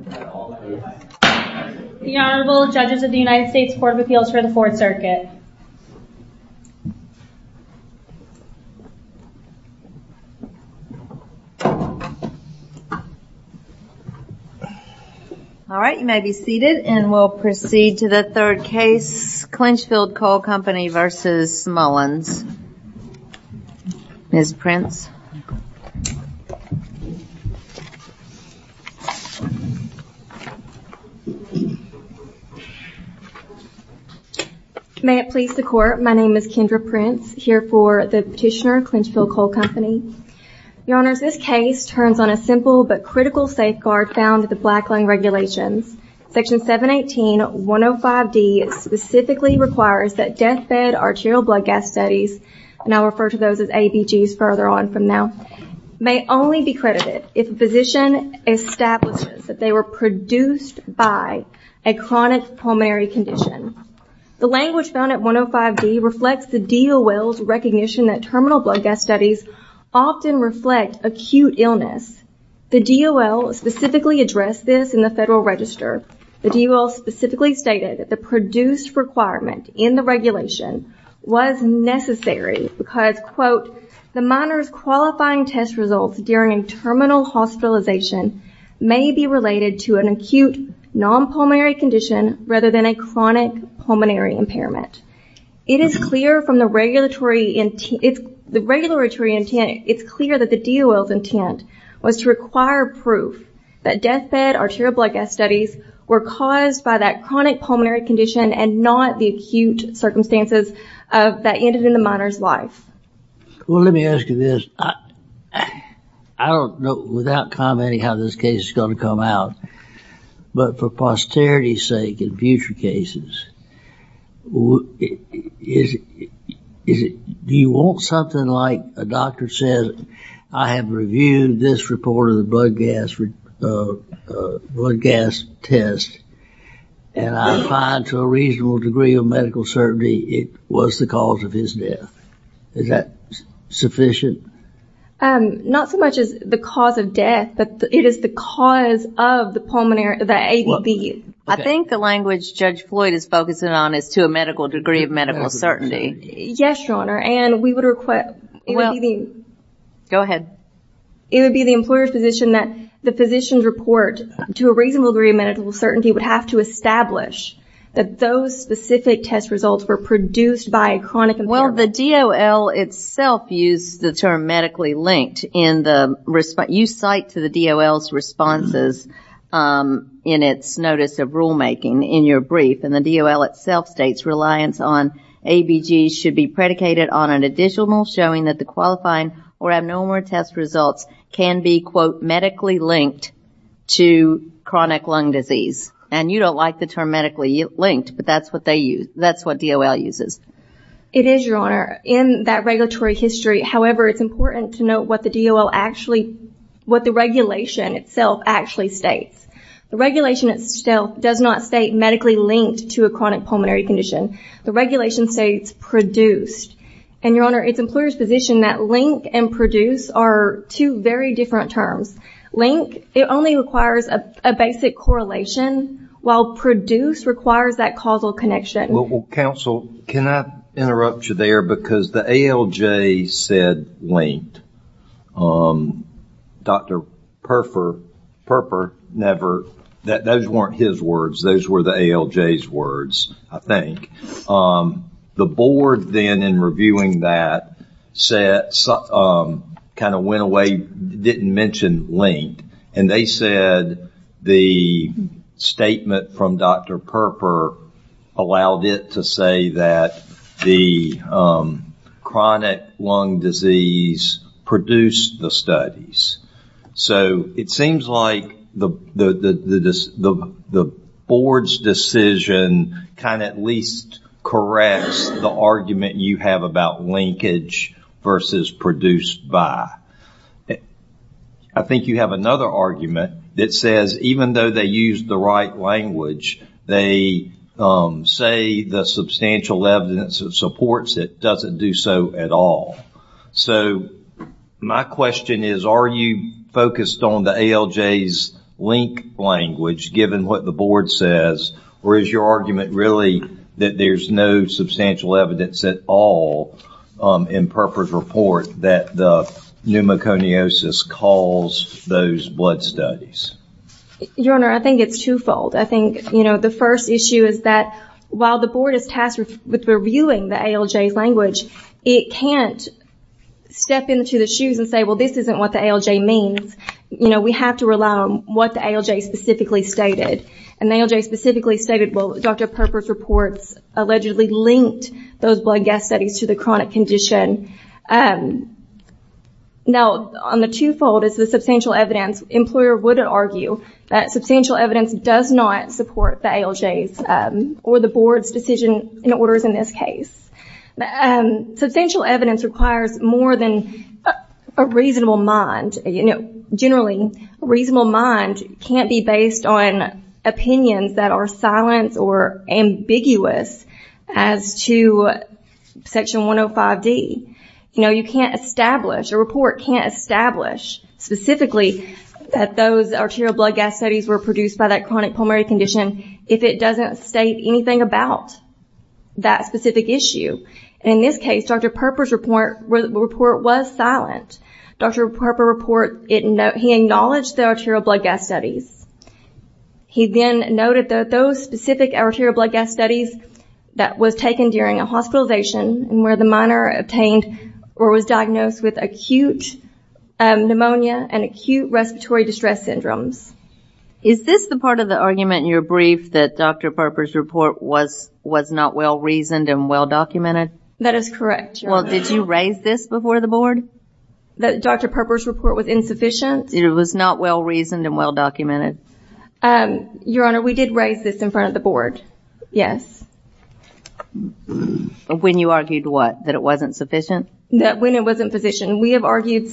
The Honorable Judges of the United States Court of Appeals for the Fourth Circuit Alright, you may be seated and we'll proceed to the third case Clinchfield Coal Company v. Mullins Ms. Prince May it please the Court, my name is Kendra Prince, here for the Petitioner, Clinchfield Coal Company Your Honors, this case turns on a simple but critical safeguard found in the Black Line Regulations Section 718.105D specifically requires that death-fed arterial blood gas studies and I'll refer to those as ABGs further on from now may only be credited if a physician establishes that they were produced by a chronic pulmonary condition The language found at 105D reflects the DOL's recognition that terminal blood gas studies often reflect acute illness. The DOL specifically addressed this in the Federal Register The DOL specifically stated that the produced requirement in the regulation was necessary because, quote, the minor's qualifying test results during a terminal hospitalization may be related to an acute non-pulmonary condition rather than a chronic pulmonary impairment It is clear from the regulatory intent, it's clear that the DOL's intent was to require proof that death-fed arterial blood gas studies were caused by that chronic pulmonary condition and not the acute circumstances that ended in the minor's life Well let me ask you this I don't know without commenting how this case is going to come out but for posterity's sake in future cases is it do you want something like a doctor says I have reviewed this report of the blood gas blood gas test and I find to a reasonable degree of medical certainty it was the cause of his death Is that sufficient? Not so much as the cause of death but it is the cause of the pulmonary I think the language Judge Floyd is focusing on is to a medical degree of medical certainty Yes your honor and we would request Go ahead It would be the employer's position that the physician's report to a reasonable degree of medical certainty would have to establish that those specific test results were produced by a chronic impairment Well the DOL itself used the term medically linked you cite to the DOL's responses in its notice of rulemaking in your brief and the DOL itself states reliance on ABG's should be predicated on an additional showing that the qualifying or abnormal test results can be quote medically linked to chronic lung disease and you don't like the term medically linked but that's what they use that's what DOL uses It is your honor in that regulatory history however it's important to note what the DOL actually what the regulation itself actually states the regulation itself does not state medically linked to a chronic pulmonary condition the regulation states produced and your honor it's employer's position that link and produce are two very different terms link it only requires a basic correlation while produce requires that causal connection Counsel can I interrupt you there because the ALJ said linked Dr. Perper never those weren't his words those were the ALJ's words I think the board then in reviewing that said kind of went away didn't mention linked and they said the statement from Dr. Perper allowed it to say that the chronic lung disease produced the studies so it seems like the board's decision kind of at least corrects the argument you have about linkage versus produced by I think you have another argument that says even though they use the right language they say the substantial evidence that supports it doesn't do so at all so my question is are you focused on the ALJ's linked language given what the board says or is your argument really that there's no substantial evidence at all in Perper's report that the pneumoconiosis caused those blood studies your honor I think it's twofold I think the first issue is that while the board is tasked with reviewing the ALJ's language it can't step into the shoes and say well this isn't what the ALJ means you know we have to rely on what the ALJ specifically stated and the ALJ specifically stated well Dr. Perper's reports allegedly linked those blood gas studies to the chronic condition now on the twofold is the substantial evidence employer wouldn't argue that substantial evidence does not support the ALJ's or the board's decision and orders in this case substantial evidence requires more than a reasonable mind generally a reasonable mind can't be based on opinions that are silent or ambiguous as to section 105 D you know you can't establish a report can't establish specifically that those arterial blood gas studies were produced by that chronic pulmonary condition if it doesn't state anything about that specific issue in this case Dr. Perper's report was silent Dr. Perper's report he acknowledged the arterial blood gas studies he then noted that those specific arterial blood gas studies that was taken during a hospitalization where the minor obtained or was diagnosed with acute pneumonia and acute respiratory distress syndromes is this the part of the argument your brief that Dr. Perper's report was was not well-reasoned and well-documented that is correct well did you raise this before the board that Dr. Perper's report was insufficient it was not well-reasoned and well-documented your honor we did raise this in front of the board yes when you argued what that it wasn't sufficient that when it wasn't physician we have argued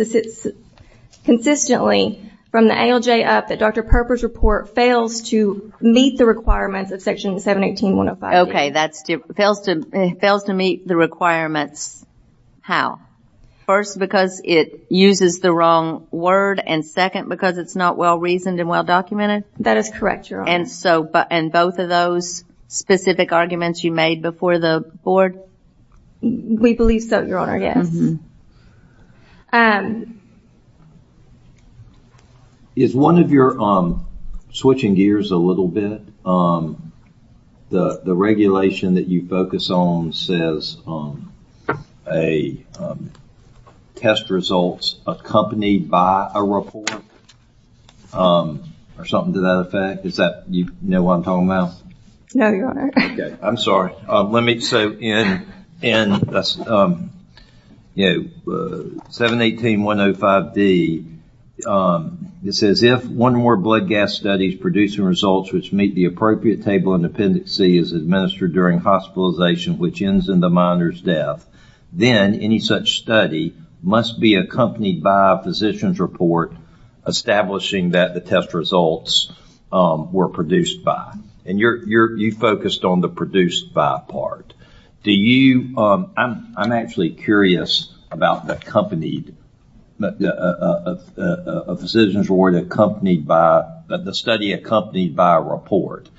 consistently from the ALJ up that Dr. Perper's report fails to meet the requirements of section 718-105 ok that's fails to meet the requirements how first because it uses the wrong word and second because it's not well-reasoned and well-documented that is correct your honor and so both of those specific arguments you made before the board we believe so your honor yes um is one of your um switching gears a little bit um the regulation that you focus on says um a um test results accompanied by a report um or something to that effect is that you know what I'm talking about no your honor ok I'm sorry let me so in and um you know 718-105-D um it says if one more blood gas studies producing results which meet the appropriate table of dependencies administered during hospitalization which ends in the minor's death then any such study must be accompanied by a physician's report establishing that the test results um were produced by and you're you're you focused on the reduced by part do you um I'm I'm actually curious about the company a physician's report accompanied by the study accompanied by a report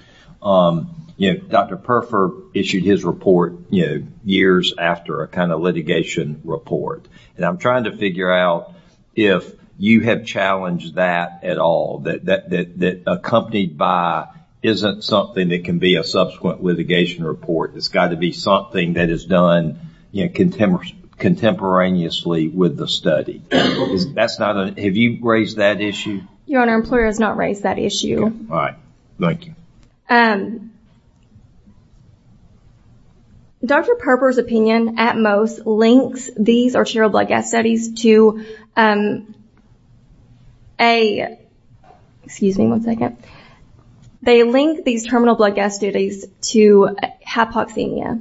um you know Dr. Perfer issued his report you know years after a kind of litigation report and I'm trying to figure out if you have challenged that at all that that that accompanied by isn't something that can be a subsequent litigation report it's got to be something that is done you know contemporary contemporaneously with the study that's not a have you raised that issue your honor employer has not raised that issue all right thank you um Dr. Perfer's opinion at most links these arterial blood gas studies to um a excuse me one second they link these terminal blood gas studies to hypoxemia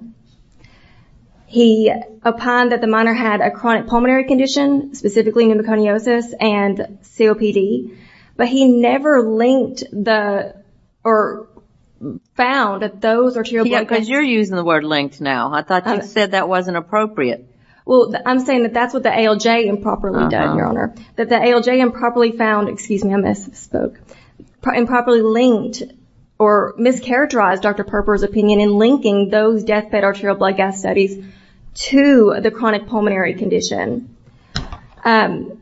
he opined that the minor had a chronic pulmonary condition specifically pneumoconiosis and COPD but he never linked the or found that those arterial blood gas you're using the word linked now I thought you said that wasn't appropriate well I'm saying that that's what the ALJ improperly done your honor that the ALJ improperly found excuse me I misspoke improperly linked or mischaracterized Dr. Perfer's opinion in linking those deathbed arterial blood gas studies to the chronic pulmonary condition um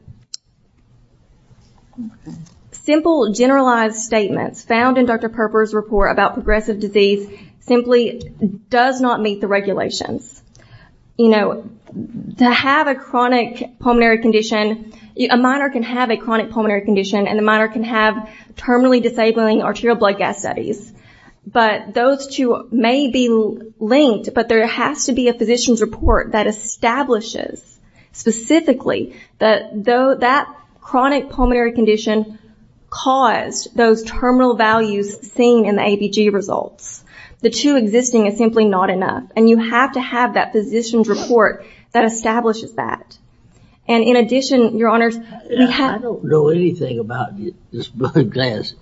simple generalized statements found in Dr. Perfer's report about progressive disease simply does not meet the regulations you know to have a chronic pulmonary condition a minor can have a chronic pulmonary condition and a minor can have terminally disabling arterial blood gas studies but those two may be linked but there has to be a physician's report that establishes specifically that though that chronic pulmonary condition caused those terminal values seen in the ABG results the two existing is simply not enough and you have to have that physician's report that establishes that and in addition your honors I don't know anything about this blood gas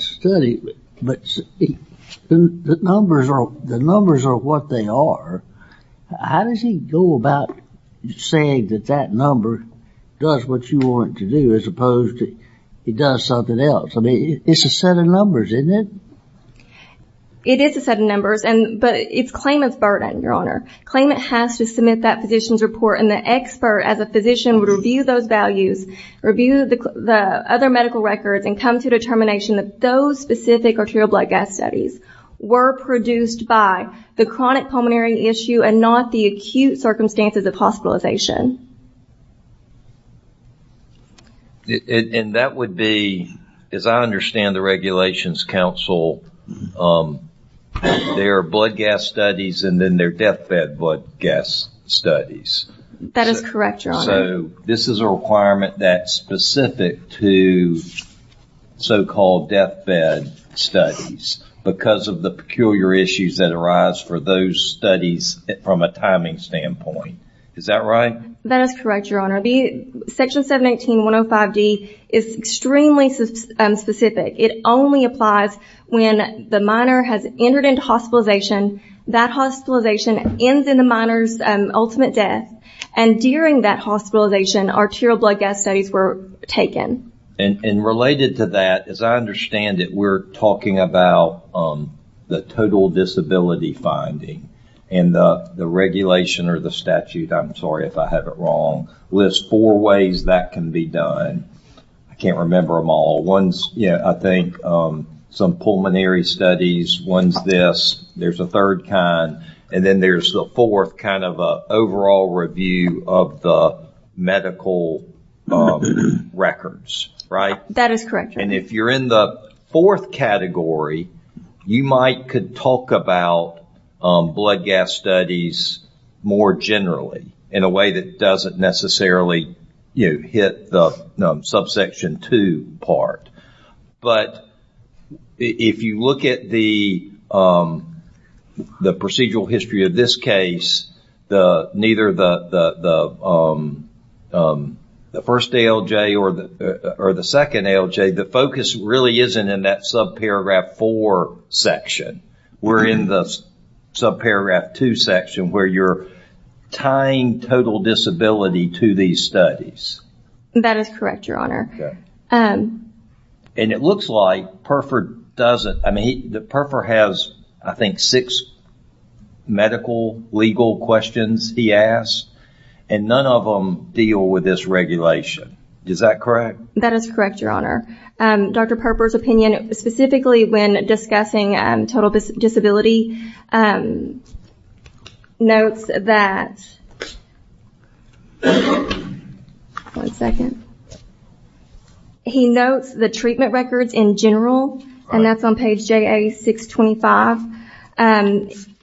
study but the numbers are what they are how does he go about saying that that number does what you want it to do as opposed to he does something else I mean it's a set of numbers isn't it? It is a set of numbers but it's claimant's burden your honor claimant has to submit that physician's report and the expert as a physician would review those values review the other medical records and come to a determination that those specific arterial blood gas studies were produced by the chronic pulmonary issue and not the acute circumstances of hospitalization and that would be as I understand the regulations council um there are blood gas studies and then death bed blood gas studies that is correct your honor so this is a requirement that's specific to so called death bed studies because of the peculiar issues that arise for those studies from a timing standpoint is that right? That is correct your honor the section 718 105 D is extremely specific it only applies when the minor has entered into hospitalization that hospitalization ends in the minor's ultimate death and during that hospitalization arterial blood gas studies were taken and related to that as I understand it we're talking about the total disability finding and the regulation or the statute I'm sorry if I have it wrong lists four ways that can be done I can't remember them all ones yeah I think some pulmonary studies one's this there's a third kind and then there's the fourth kind of a overall review of the medical records right? That is correct your honor and if you're in the fourth category you might could talk about blood gas studies more generally in a way that doesn't necessarily you know hit the subsection 2 part but if you look at the procedural history of this case the first ALJ or the second ALJ the focus really isn't in that sub paragraph 4 section we're in the sub paragraph 2 section where you're tying total disability to these studies. That is correct your honor and it looks like Perfer doesn't I mean Perfer has I think six medical legal questions he asked and none of them deal with this regulation is that correct? That is correct your honor Dr. Perfer's opinion specifically when discussing total disability notes that one second he notes the treatment records in general and that's on page JA 625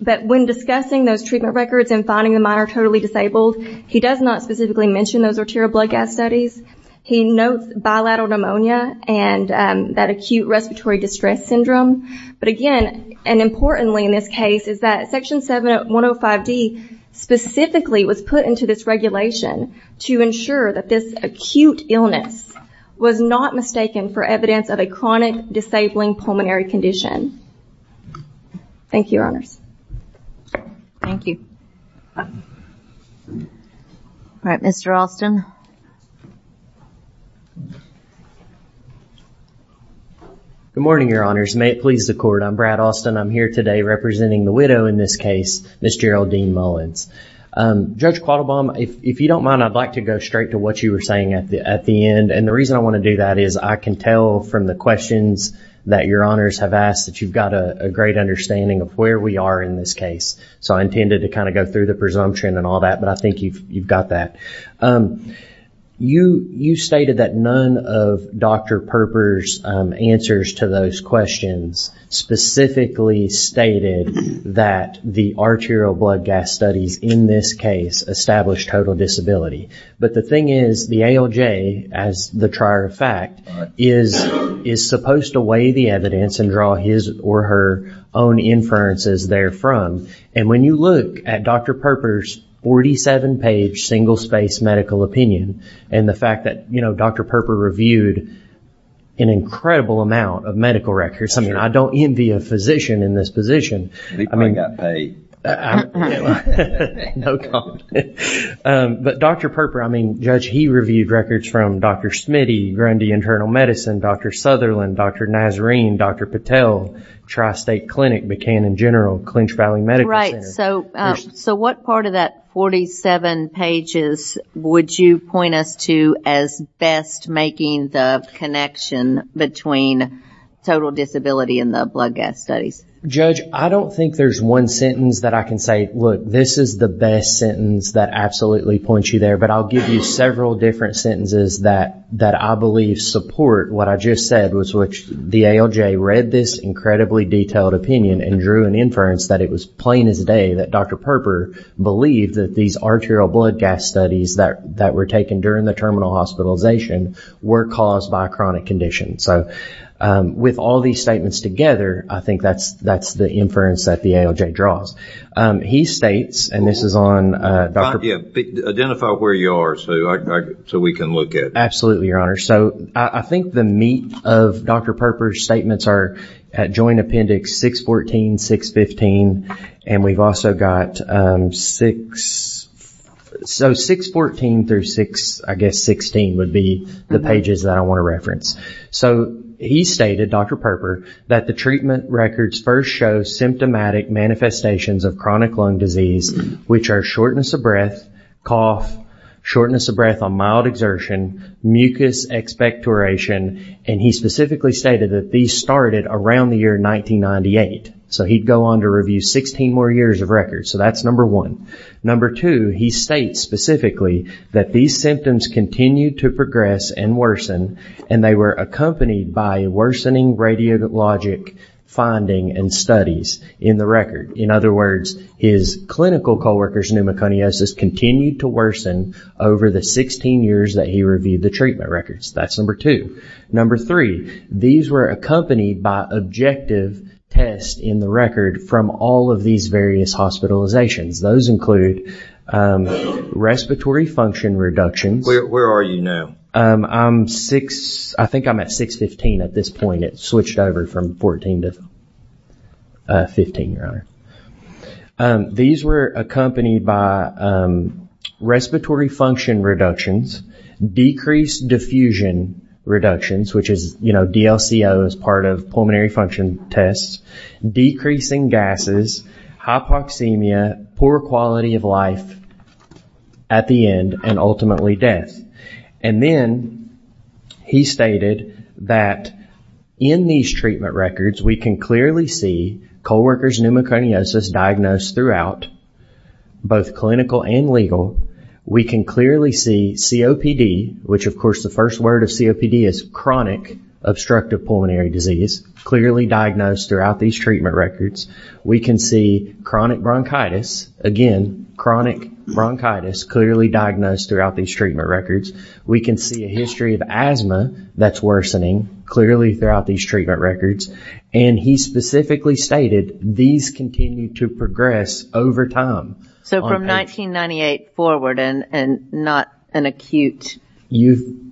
but when discussing those treatment records and finding the minor totally disabled he does not specifically mention those arterial blood gas studies he notes bilateral pneumonia and that acute respiratory distress syndrome but again and importantly in this case is that section 7105 D specifically was put into this regulation to ensure that this acute illness was not mistaken for evidence of a chronic disabling pulmonary condition Thank you your honors. Thank you Alright Mr. Alston Good morning your honors may it please the court I'm Brad Alston I'm here today representing the widow in this case Ms. Geraldine Mullins Judge Quattlebaum if you don't mind I'd like to go straight to what you were saying at the end and the reason I want to do that is I can tell from the questions that your honors have asked that you've got a great understanding of where we are in this case so I intended to kind of go through the presumption and all that but I think you've got that. You stated that none of Dr. Perfer's answers to those questions specifically stated that the arterial blood gas studies in this case established total disability but the thing is the ALJ as the trier of fact is supposed to weigh the evidence and draw his or her own inferences there from and when you look at Dr. Perfer's 47 page single spaced medical opinion and the fact that Dr. Perfer reviewed an incredible amount of medical records I mean I don't envy a physician in this position I mean but Dr. Perfer I mean Judge he reviewed records from Dr. Smitty, Grundy Internal Medicine, Dr. Sutherland, Dr. Nazarene, Dr. Patel, Tri-State Clinic, Buchanan General, Clinch Valley Medical Center Right so what part of that 47 pages would you point us to as best making the connection between total disability and the blood gas studies? Judge I don't think there's one sentence that I can say this is the best sentence that absolutely points you there but I'll give you several different sentences that I believe support what I just said which the ALJ read this incredibly detailed opinion and drew an inference that it was plain as day that Dr. Perfer believed that these arterial blood gas studies that were taken during the terminal hospitalization were caused by a chronic condition so with all these statements together I think that's the inference that the ALJ draws. He states and this is on identify where you are so we can look at it. Absolutely your honor so I think the meat of Dr. Perfer's statements are at joint appendix 614, 615 and we've also got 6 so 614 through 6 I guess 16 would be the pages that I want to reference so he stated Dr. Perfer that the treatment records first show symptomatic manifestations of chronic lung disease which are shortness of breath, cough, shortness of breath on mild exertion, mucus expectoration and he specifically stated that these started around the year 1998 so he'd go on to review 16 more years of records so that's number one. Number two he states specifically that these symptoms continued to progress and worsen and they were accompanied by worsening radiologic finding and studies in the record. In other words his clinical coworkers pneumoconiosis continued to worsen over the 16 years that he reviewed the treatment records. That's number two. Number three these were accompanied by objective tests in the record from all of these various hospitalizations. Those include respiratory function reductions. Where are you now? I'm 6, I think I'm at 615 at this point. It switched over from 14 to 15 your honor. These were accompanied by respiratory function reductions, decreased diffusion reductions which is you know DLCO is part of pulmonary function tests, decreasing gases, hypoxemia, poor quality of life at the end and ultimately death. And then he stated that in these treatment records we can clearly see coworkers pneumoconiosis diagnosed throughout both clinical and legal. We can clearly see COPD which of course the first word of COPD is chronic obstructive pulmonary disease clearly diagnosed throughout these treatment records. We can see chronic bronchitis, again chronic bronchitis clearly diagnosed throughout these treatment records. We can see a history of asthma that's worsening clearly throughout these treatment records and he specifically stated these continue to progress over time. So from 1998 forward and not an acute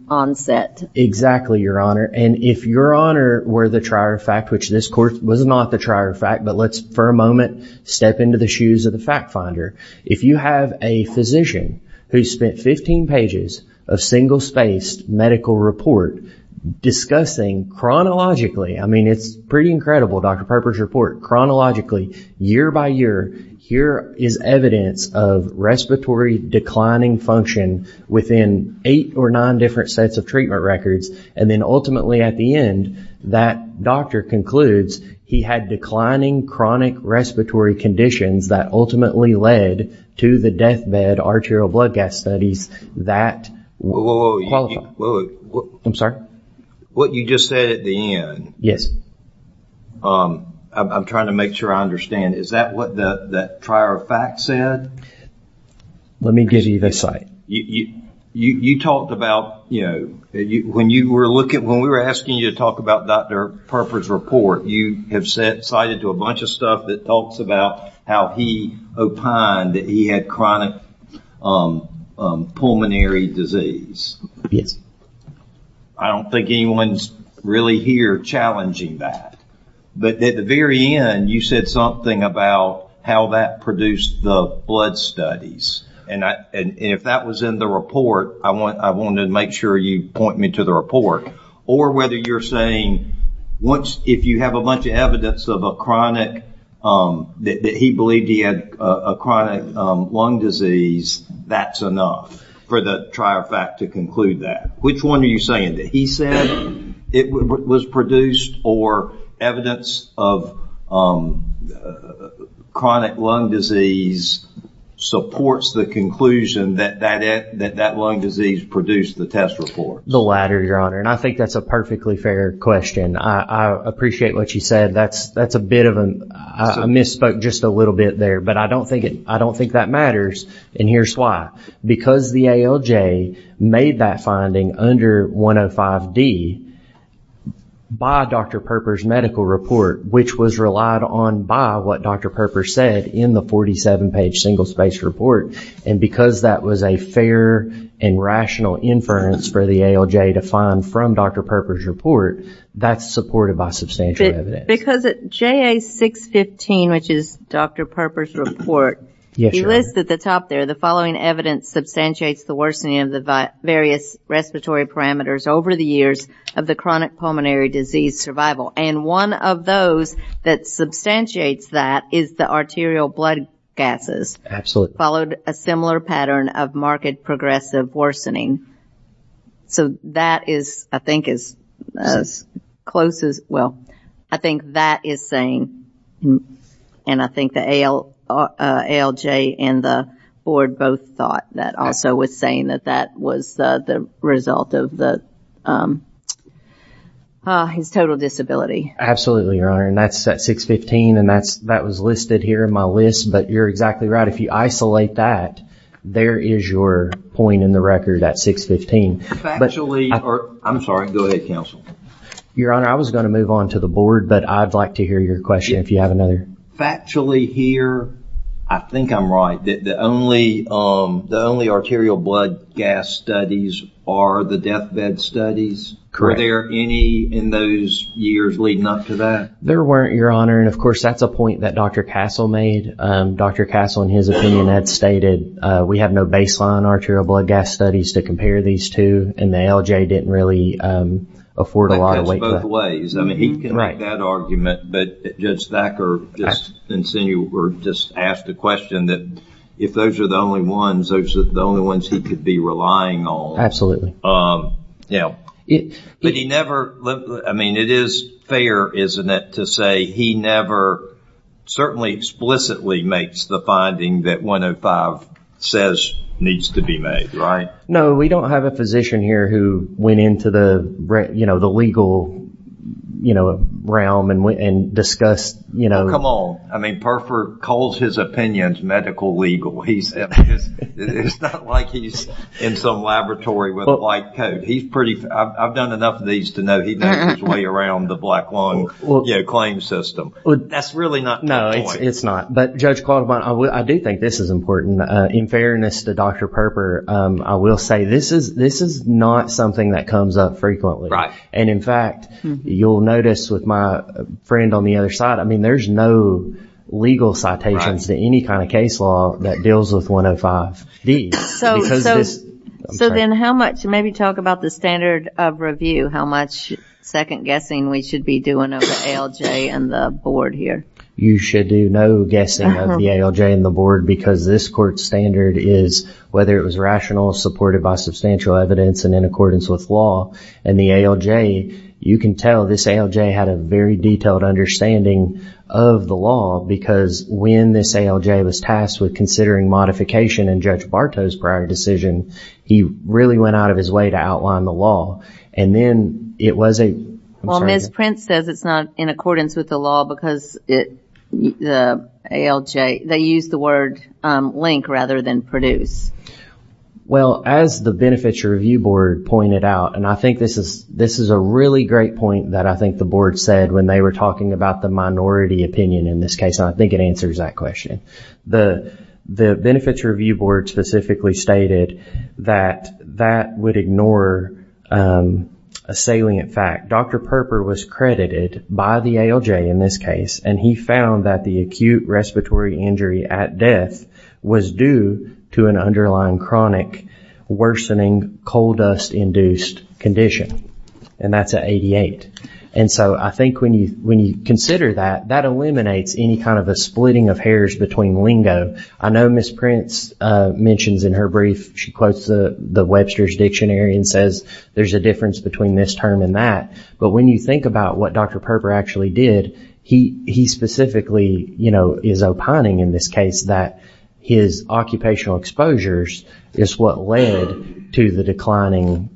onset. Exactly your honor and if your honor were the trier of fact which this court was not the trier of fact but let's for a moment step into the shoes of the fact finder. If you have a physician who's spent 15 pages of single spaced medical report discussing chronologically, I mean it's pretty incredible Dr. Perper's report, chronologically year by year here is evidence of respiratory declining function within eight or nine different sets of treatment records and then ultimately at the end that doctor concludes he had declining chronic respiratory conditions that ultimately led to the death bed arterial blood gas studies that I'm sorry? What you just said at the end I'm trying to make sure I understand is that what that trier of fact said? Let me give you the site. You talked about when we were asking you to talk about Dr. Perper's report you have cited to a bunch of stuff that talks about how he opined that he had chronic pulmonary disease. Yes. I don't think anyone's really here challenging that but at the very end you said something about how that produced the blood studies and if that was in the report I wanted to make sure you point me to the report or whether you're saying once if you have a bunch of evidence of a chronic that he believed he had a chronic lung disease that's enough for the trier of fact to conclude that. Which one are you saying that he said it was produced or evidence of chronic lung disease supports the conclusion that that lung disease produced the test report? The latter your honor and I think that's a perfectly fair question. I appreciate what you said. That's a bit of a misspoke just a little bit there but I don't think that matters and here's why. Because the ALJ made that finding under 105D by Dr. Perper's medical report which was relied on by what Dr. Perper said in the 47 page single spaced report and because that was a fair and rational inference for the ALJ to find from Dr. Perper's report that's supported by substantial evidence. Because JA615 which is Dr. Perper's report he lists at the top there the following evidence substantiates the worsening of the various respiratory parameters over the years of the chronic pulmonary disease survival and one of those that substantiates that is the arterial blood gases. Absolutely. Followed a similar pattern of marked progressive worsening. So that is I think as close as well. I think that is saying and I think the ALJ and the board both thought that also was saying that that was the result of the his total disability. Absolutely your honor and that's at 615 and that was listed here in my list but you're exactly right if you isolate that there is your point in the record at 615. Your honor I was going to move on to the board but I'd like to hear your question if you have another. Factually here I think I'm right the only arterial blood gas studies are the death bed studies. Correct. Were there any in those years leading up to that? There weren't your honor and of course that's a point that Dr. Castle made. Dr. Castle in his opinion had stated we have no baseline arterial blood gas studies to compare these two and the ALJ didn't really afford a lot of weight. That goes both ways. He can make that argument but Judge Thacker just asked the question that if those are the only ones those are the only ones he could be relying on. It is fair isn't it to say he never certainly explicitly makes the finding that 105 says needs to be made right? No we don't have a physician here who went into the legal realm and discussed Come on Perford calls his opinions medical legal. It's not like he's in some laboratory with a white coat. I've done enough of these to know he makes his way around the black lung claim system. That's really not the point. No it's not. But Judge Quattlebottom I do think this is important. In fairness to Dr. Perper I will say this is not something that comes up frequently. And in fact you'll notice with my friend on the other side I mean there's no legal citations to any kind of case law that deals with 105. So then how much maybe talk about the standard of review how much second guessing we should be doing of the ALJ and the board here. You should do no guessing of the ALJ and the board because this court standard is whether it was rational supported by substantial evidence and in accordance with law and the ALJ you can tell this ALJ had a very detailed understanding of the law because when this ALJ was tasked with considering modification and Judge Bartow's prior decision he really went out of his way to outline the law and then it was a Well Ms. Prince says it's not in accordance with the law because it the ALJ they use the word link rather than produce. Well as the benefits review board pointed out and I think this is this is a really great point that I think the board said when they were talking about the minority opinion in this case and I think it answers that question. The benefits review board specifically stated that that would ignore a salient fact. Dr. Perper was credited by the ALJ in this case and he found that the acute respiratory injury at death was due to an underlying chronic worsening coal dust induced condition and that's at 88 and so I think when you consider that that eliminates any kind of a splitting of hairs between lingo I know Ms. Prince mentions in her brief she quotes the Webster's dictionary and says there's a difference between this term and that but when you think about what Dr. Perper actually did he specifically you know is opining in this case that his occupational exposures is what led to the declining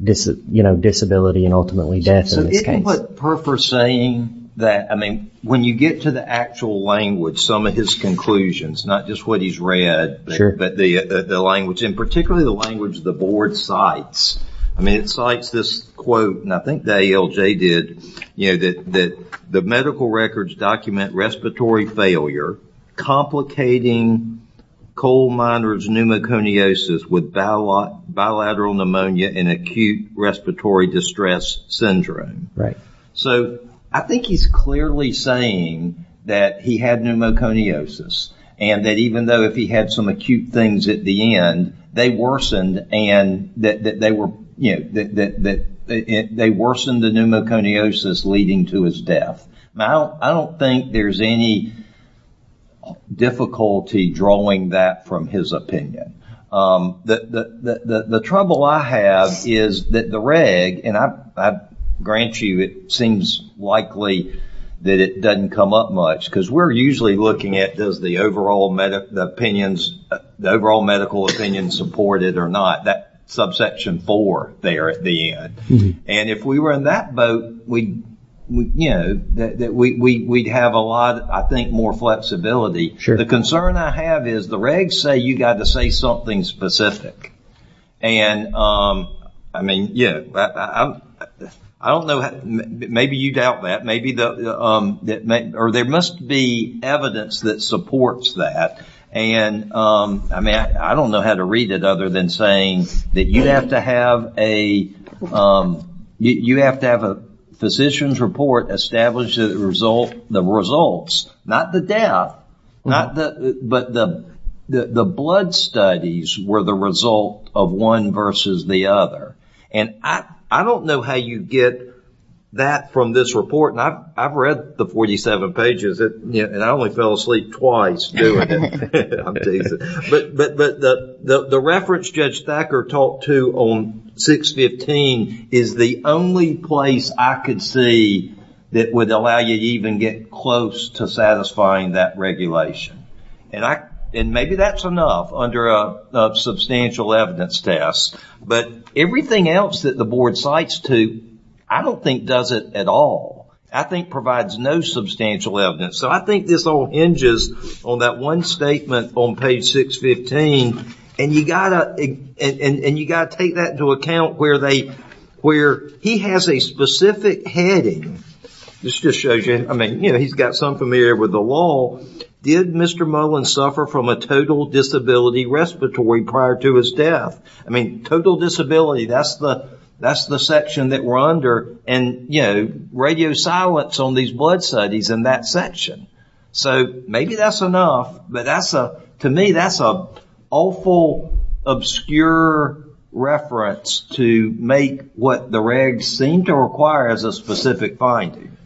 you know disability and ultimately death in this case. So isn't what Perper saying that I mean when you get to the actual language some of his conclusions not just what he's read but the language and particularly the language the board cites I mean it cites this quote and I think the ALJ did you know that the medical records document respiratory failure complicating coal miners pneumoconiosis with bilateral pneumonia and acute respiratory distress syndrome. So I think he's clearly saying that he had pneumoconiosis and that even though if he had some acute things at the end they worsened and that they were you know that they worsened the pneumoconiosis leading to his death. Now I don't think there's any difficulty drawing that from his opinion. The trouble I have is that the reg and I grant you it seems likely that it doesn't come up much because we're usually looking at does the overall medical opinions the overall medical opinion support it or not that subsection four there at the end and if we were in that boat we you know we'd have a lot I think more flexibility. The concern I have is the regs say you got to say something specific and I mean yeah I don't know maybe you doubt that maybe there must be evidence that supports that and I mean I don't know how to read it other than saying that you have to have a you have to have a physician's report establish the results not the death but the blood studies were the result of one versus the other and I don't know how you get that from this report and I've read the 47 pages and I only fell asleep twice doing it. But the reference Judge Thacker talked to on 615 is the only place I could see that would allow you to even get close to satisfying that regulation and maybe that's enough under a substantial evidence test but everything else that the board cites to I don't think does it at all. I think provides no substantial evidence so I think this all hinges on that one statement on page 615 and you got to take that into account where he has a specific heading. This just shows you I mean you know he's got some familiar with the law. Did Mr. Mullen suffer from a total disability respiratory prior to his death? I mean total disability that's the that's the section that we're under and you know radio silence on these blood studies in that section so maybe that's enough but that's a to me that's a awful obscure reference to make what the regs seem to require as a specific finding.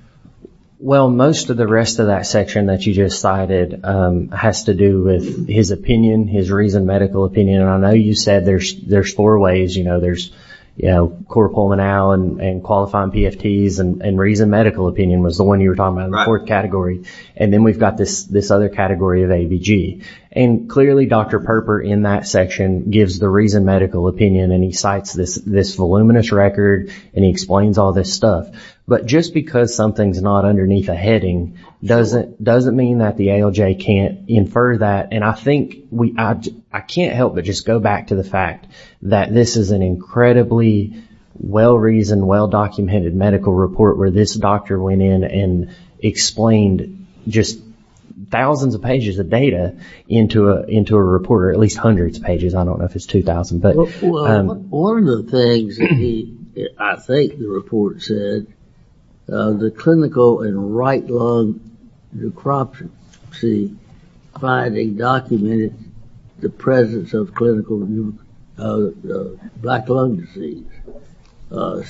Well most of the rest of that section that you just cited has to do with his opinion his reasoned medical opinion and I know you said there's there's four ways you know there's you know core pulmonale and qualifying PFTs and reasoned medical opinion was the one you were talking about in the fourth category and then we've got this other category of ABG and clearly Dr. Perper in that section gives the reasoned medical opinion and he writes this voluminous record and he explains all this stuff but just because something's not underneath a heading doesn't mean that the ALJ can't infer that and I think I can't help but just go back to the fact that this is an incredibly well-reasoned well-documented medical report where this doctor went in and explained just thousands of pages of data into a report or at least hundreds of pages I don't know One of the things I think the report said the clinical and right lung necropsy finding documented the presence of clinical black lung disease and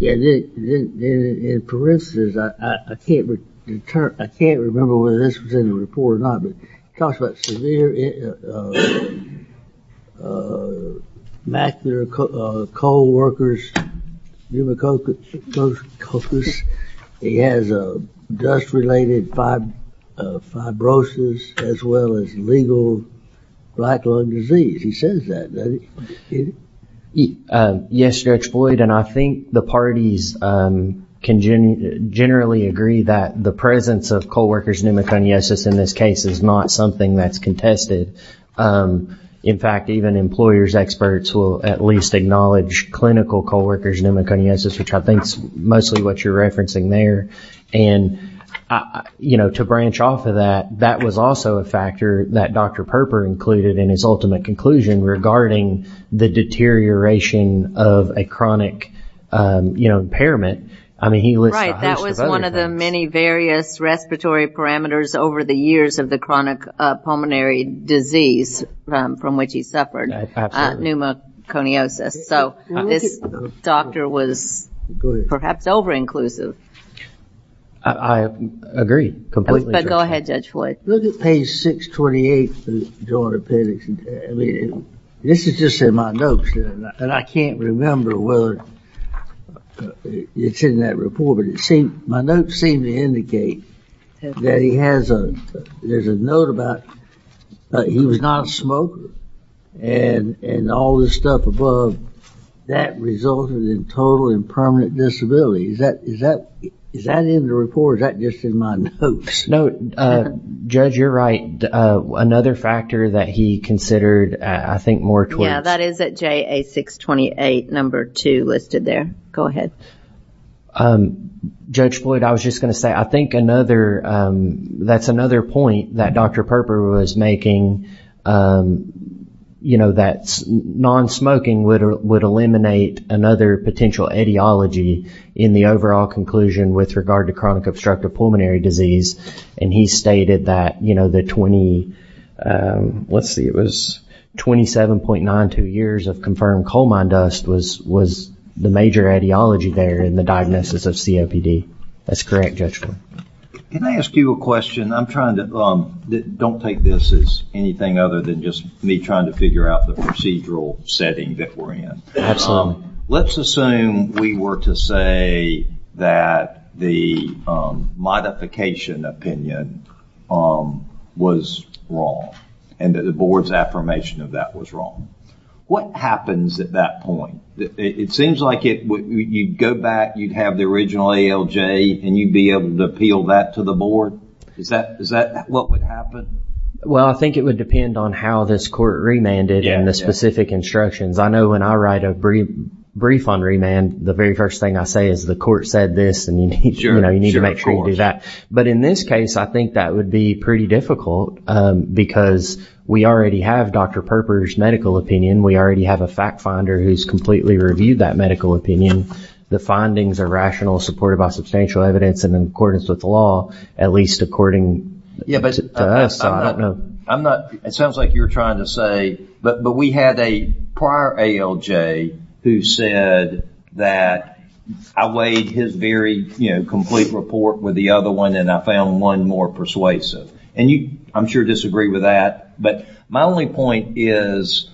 in parenthesis I can't remember whether this was in the report or not talks about severe macular cold workers pneumococcus, he has dust related fibrosis as well as legal black lung disease, he says that Yes Judge Floyd and I think the parties generally agree that the presence of cold is not something that's contested, in fact even employers' experts will at least acknowledge clinical cold workers which I think is mostly what you're referencing there and to branch off of that, that was also a factor that Dr. Perper included in his ultimate conclusion regarding the deterioration of a chronic impairment Right, that was one of the many various respiratory parameters over the years of the chronic pulmonary disease from which he suffered, pneumoconiosis so this doctor was perhaps over inclusive I agree completely Go ahead Judge Floyd. Look at page 628 this is just in my notes and I can't remember whether it's in that report but it seems my notes seem to indicate that he has there's a note about he was not a smoker and all this stuff above, that resulted in total impermanent disability, is that in the report or is that just in my notes? No, Judge you're right another factor that he considered I think more towards Yeah that is at JA628 number 2 listed there, go ahead Judge Floyd I was just going to say I think another that's another point that Dr. Perper was making that non-smoking would eliminate another potential etiology in the overall conclusion with regard to chronic obstructive pulmonary disease and he stated that the 20, let's see it was 27.92 years of confirmed coal mine dust was the major etiology there in the diagnosis of COPD that's correct Judge Floyd. Can I ask you a question, I'm trying to don't take this as anything other than just me trying to figure out the procedural setting that we're in. Absolutely. Let's assume we were to say that the modification opinion was wrong and that the board's affirmation of that was wrong what happens at that point? It seems like you'd go back, you'd have the original ALJ and you'd be able to appeal that to the board, is that what would happen? Well I think it would depend on how this court remanded and the specific instructions I know when I write a brief on remand the very first thing I say is the court said this and you need to make sure you do that. But in this case I think that would be pretty difficult because we already have Dr. Perper's medical opinion, we already have a fact finder who's completely reviewed that medical opinion. The findings are rational supported by substantial evidence and in accordance with the law at least according to us. I'm not, it sounds like you're trying to say, but we had a prior ALJ who said that I weighed his very complete report with the other one and I found one more persuasive and I'm sure you disagree with that but my only point is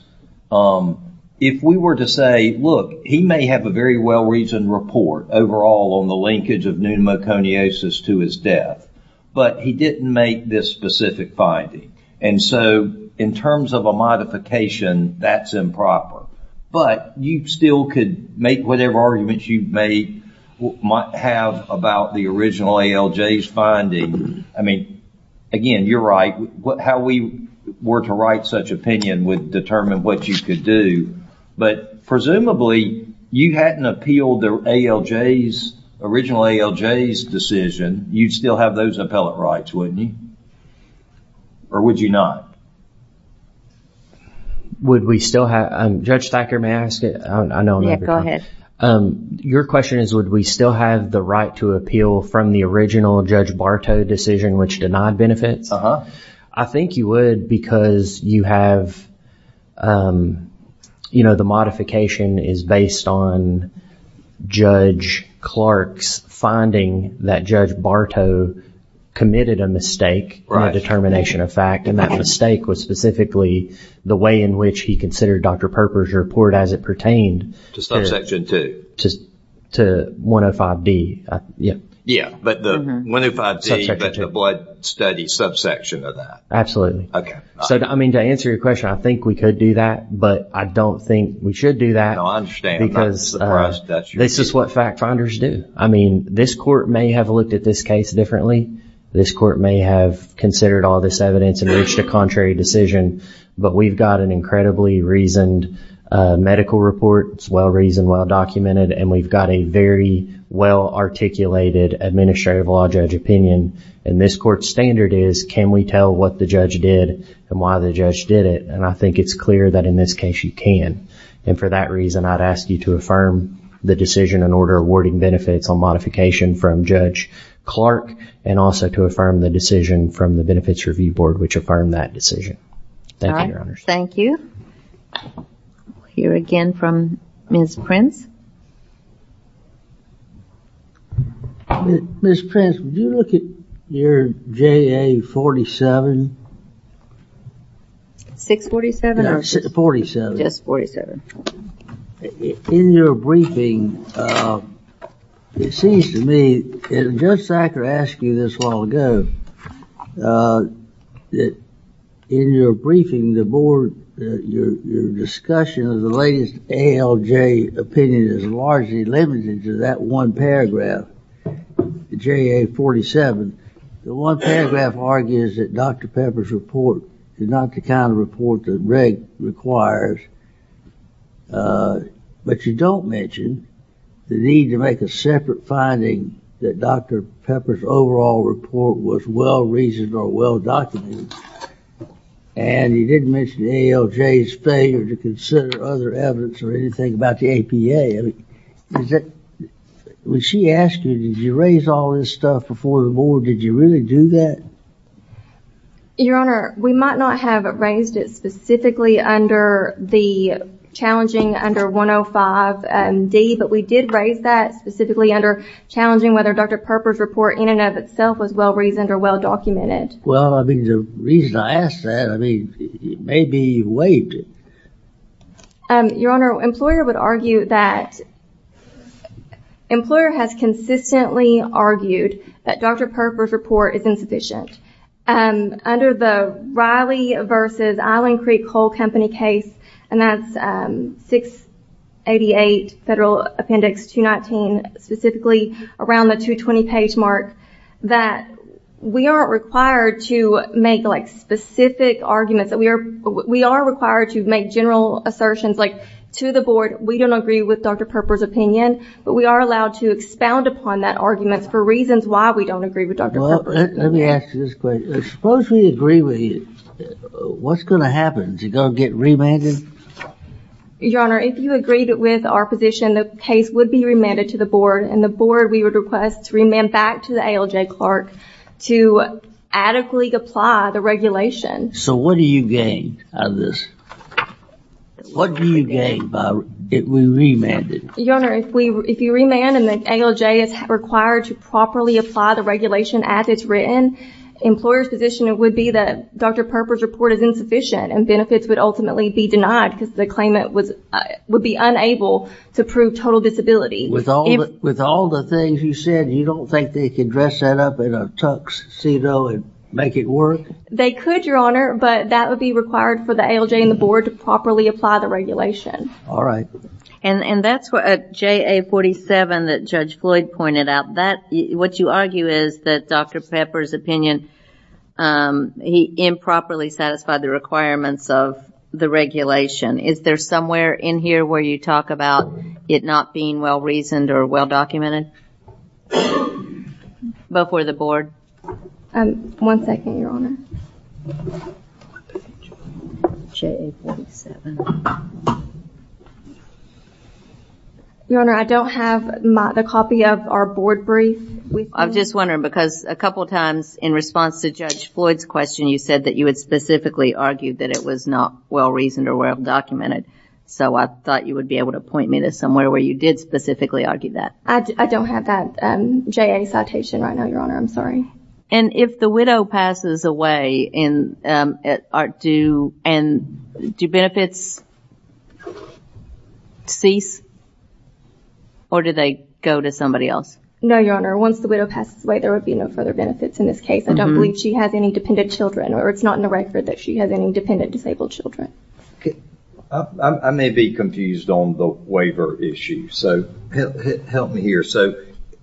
if we were to say look, he may have a very well reasoned report overall on the linkage of pneumoconiosis to his death but he didn't make this specific finding and so in terms of a modification that's improper but you still could make whatever arguments you may have about the original ALJ's finding, I mean, again, you're right, how we were to write such opinion would determine what you could do but presumably you hadn't appealed the ALJ's original ALJ's decision, you'd still have those appellate rights, wouldn't you? Or would you not? Would we still have, Judge Thacker, may I ask it? Yeah, go ahead. Your question is would we still have the right to appeal from the original Judge Bartow decision which denied benefits? I think you would because you have the modification is based on Judge Clark's finding that Judge Bartow committed a mistake in the determination of fact and that mistake was specifically the way in which he considered Dr. Perper's report as it pertained to 105D. 105D but the blood study subsection of that. Absolutely. To answer your question, I think we could do that but I don't think we should do that because this is what fact finders do. This court may have looked at this case differently. This court may have considered all this evidence and reached a contrary decision but we've got an incredibly reasoned medical report it's well reasoned, well documented and we've got a very well articulated administrative law judge opinion and this court's standard is can we tell what the judge did and why the judge did it and I think it's clear that in this case you can and for that reason I'd ask you to affirm the decision in order awarding benefits on modification from Judge Clark and also to affirm the decision from the Benefits Review Board which affirmed that decision. Thank you. Thank you. We'll hear again from Ms. Prince. Ms. Prince, would you look at your JA 47? 647 or 47? Just 47. In your briefing it seems to me and Judge Sacker asked you this a while ago that in your briefing the board, your discussion of the latest ALJ opinion is largely limited to that one paragraph JA 47. The one paragraph argues that Dr. Pepper's report is not the kind of report the reg requires but you don't mention the need to make a separate finding that Dr. Pepper's overall report was well reasoned or well documented and you didn't mention ALJ's failure to consider other evidence or anything about the APA. When she asked you did you raise all this stuff before the board did you really do that? Your Honor, we might not have raised it specifically under the challenging under 105 D but we did raise that specifically under challenging whether Dr. Pepper's report in and of itself was well reasoned or well documented. Well, I mean the reason I asked that, I mean maybe you waived it. Your Honor, employer would argue that employer has consistently argued that Dr. Pepper's report is insufficient under the Riley versus Island Creek Coal Company case and that's 688 Federal Appendix 219 specifically around the 220 page mark that we aren't required to make specific arguments. We are required to make general assertions like to the board we don't agree with Dr. Pepper's opinion but we are allowed to expound upon that argument for reasons why we don't agree with Dr. Pepper. Well, let me ask you this question. Suppose we agree with you what's going to happen? Is it going to get remanded? Your Honor, if you agree with our position, the case would be remanded to the board and the board we would request to remand back to the ALJ clerk to adequately apply the regulation. So what do you gain out of this? What do you gain if we remand it? Your Honor, if you remand and the ALJ is required to properly apply the regulation as it's written, employer's position would be that Dr. Pepper's report is insufficient and benefits would ultimately be denied because the claimant would be unable to prove total disability. With all the things you said, you don't think they can dress that up in a tuxedo and make it work? They could, Your Honor, but that would be required for the ALJ and the board to properly apply the regulation. Alright. And that's what JA 47 that Judge Floyd pointed out. What you argue is that Dr. Pepper's opinion, he improperly satisfied the requirements of the regulation. Is there somewhere in here where you talk about it not being well-reasoned or well-documented? Before the board? One second, Your Honor. JA 47. Your Honor, I don't have the copy of our board brief. I'm just wondering because a couple times in response to Judge Floyd's question, you said that you would specifically argue that it was not well-reasoned or well-documented, so I thought you would be able to point me to somewhere where you did specifically argue that. I don't have that JA citation right now, Your Honor. I'm sorry. And if the widow passes away and do benefits cease or do they go to somebody else? No, Your Honor. Once the widow passes away, there would be no further benefits in this case. I don't believe she has any dependent children or it's not in the record that she has any dependent disabled children. I may be confused on the waiver issue, so help me here.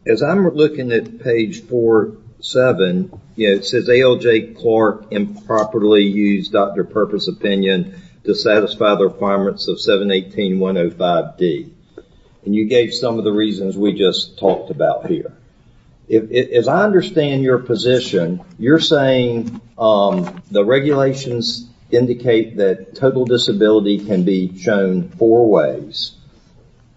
As I'm looking at page 47, it says ALJ Clark improperly used Dr. Pepper's opinion to satisfy the requirements of 718.105D. You gave some of the reasons we just talked about here. As I understand your position, you're saying the regulations indicate that total disability can be shown four ways.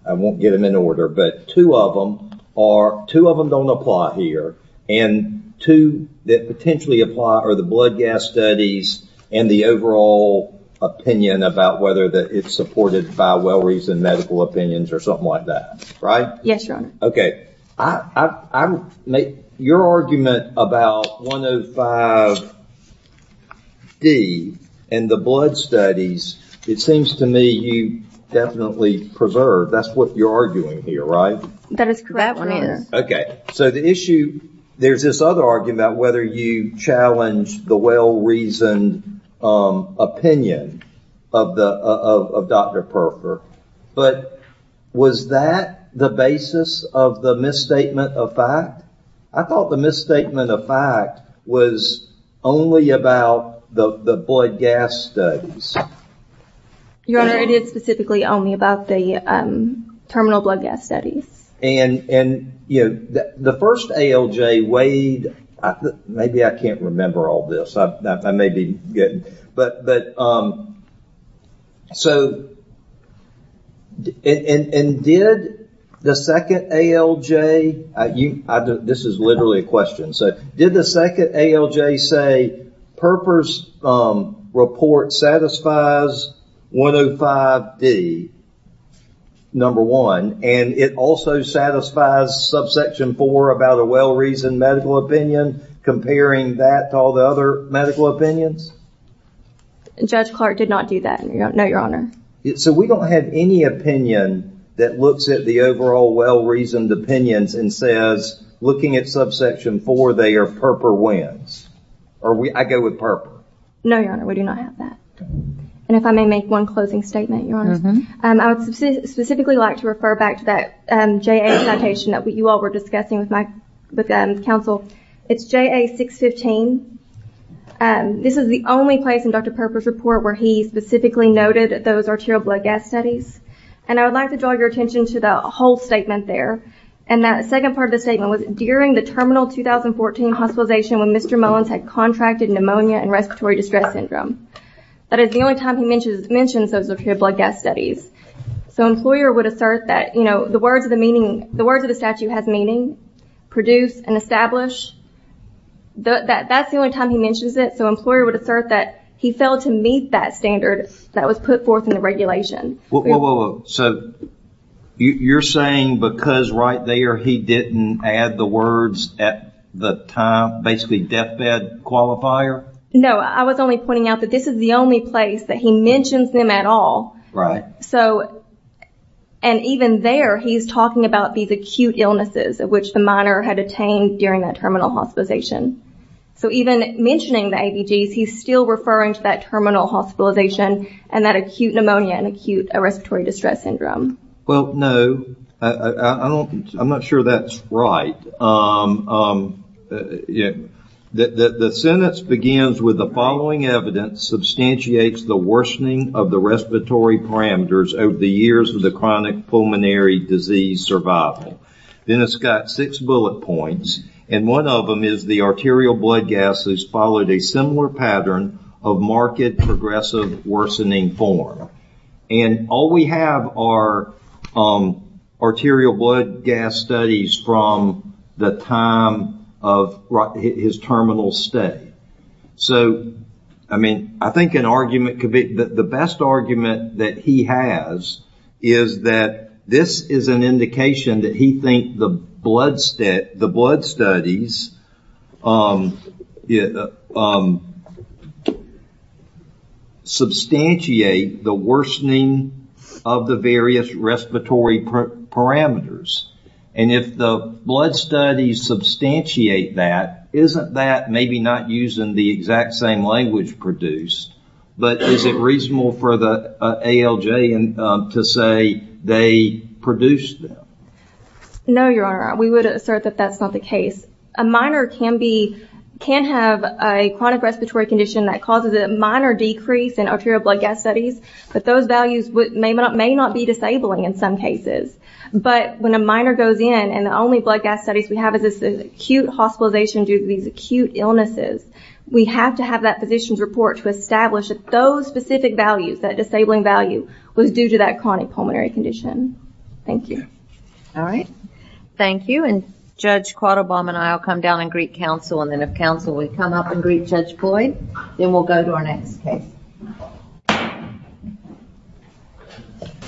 I won't get them in order, but two of them don't apply here and two that potentially apply are the blood gas studies and the overall opinion about whether it's supported by well-reasoned medical opinions or something like that, right? Yes, Your Honor. Your argument about 105D and the blood studies, it seems to me you definitely preserve. That's what you're arguing here, right? There's this other argument about whether you challenge the well-reasoned opinion of Dr. Pepper, but was that the basis of the misstatement of fact? I thought the misstatement of fact was only about the blood gas studies. Your Honor, it is specifically only about the terminal blood gas studies. The first ALJ weighed... maybe I can't remember all this. I may be getting... Did the second ALJ say Pepper's report satisfies 105D, number one, and it also satisfies subsection four about a well-reasoned medical opinion, comparing that to all the other medical opinions? Judge Clark did not do that. No, Your Honor. So we don't have any opinion that looks at the overall well-reasoned opinions and says, looking at subsection four, they are Pepper wins. I go with Pepper. No, Your Honor. We do not have that. And if I may make one closing statement, Your Honor. I would specifically like to refer back to that JA citation that you all were discussing with counsel. It's this is the only place in Dr. Pepper's report where he specifically noted those arterial blood gas studies. And I would like to draw your attention to the whole statement there. And that second part of the statement was, during the terminal 2014 hospitalization when Mr. Mullins had contracted pneumonia and respiratory distress syndrome. That is the only time he mentions those arterial blood gas studies. So an employer would assert that the words of the statute has meaning, produce and establish. That's the only time he mentions it. So an employer would assert that he failed to meet that standard that was put forth in the regulation. So you're saying because right there he didn't add the words at the time, basically deathbed qualifier? No, I was only pointing out that this is the only place that he mentions them at all. Right. And even there he's talking about these acute illnesses of which the minor had attained during that terminal hospitalization. So even mentioning the ABGs, he's still referring to that terminal hospitalization and that acute pneumonia and acute respiratory distress syndrome. Well, no. I'm not sure that's right. The sentence begins with the following evidence substantiates the worsening of the respiratory parameters over the years of the chronic pulmonary disease survival. Then it's got six bullet points and one of them is the arterial blood gases followed a similar pattern of marked progressive worsening form. And all we have are arterial blood gas studies from the time of his terminal stay. So, I mean, I think an argument could be that the best argument that he has is that this is an indication that he thinks the blood studies substantiate the worsening of the various respiratory parameters. And if the blood studies substantiate that, isn't that maybe not using the exact same language produced? But is it reasonable for the ALJ to say they produced them? No, Your Honor. We would assert that that's not the case. A minor can have a chronic respiratory condition that causes a minor decrease in arterial blood gas studies, but those values may not be disabling in some cases. But when a minor goes in and the only blood gas studies we have is this acute hospitalization due to these acute illnesses, we have to have that physician's report to establish that those specific values, that disabling value, was due to that chronic pulmonary condition. Thank you. All right. Thank you, and Judge Quattlebaum and I will come down and greet counsel, and then if counsel will come up and greet Judge Floyd, then we'll go to our next case.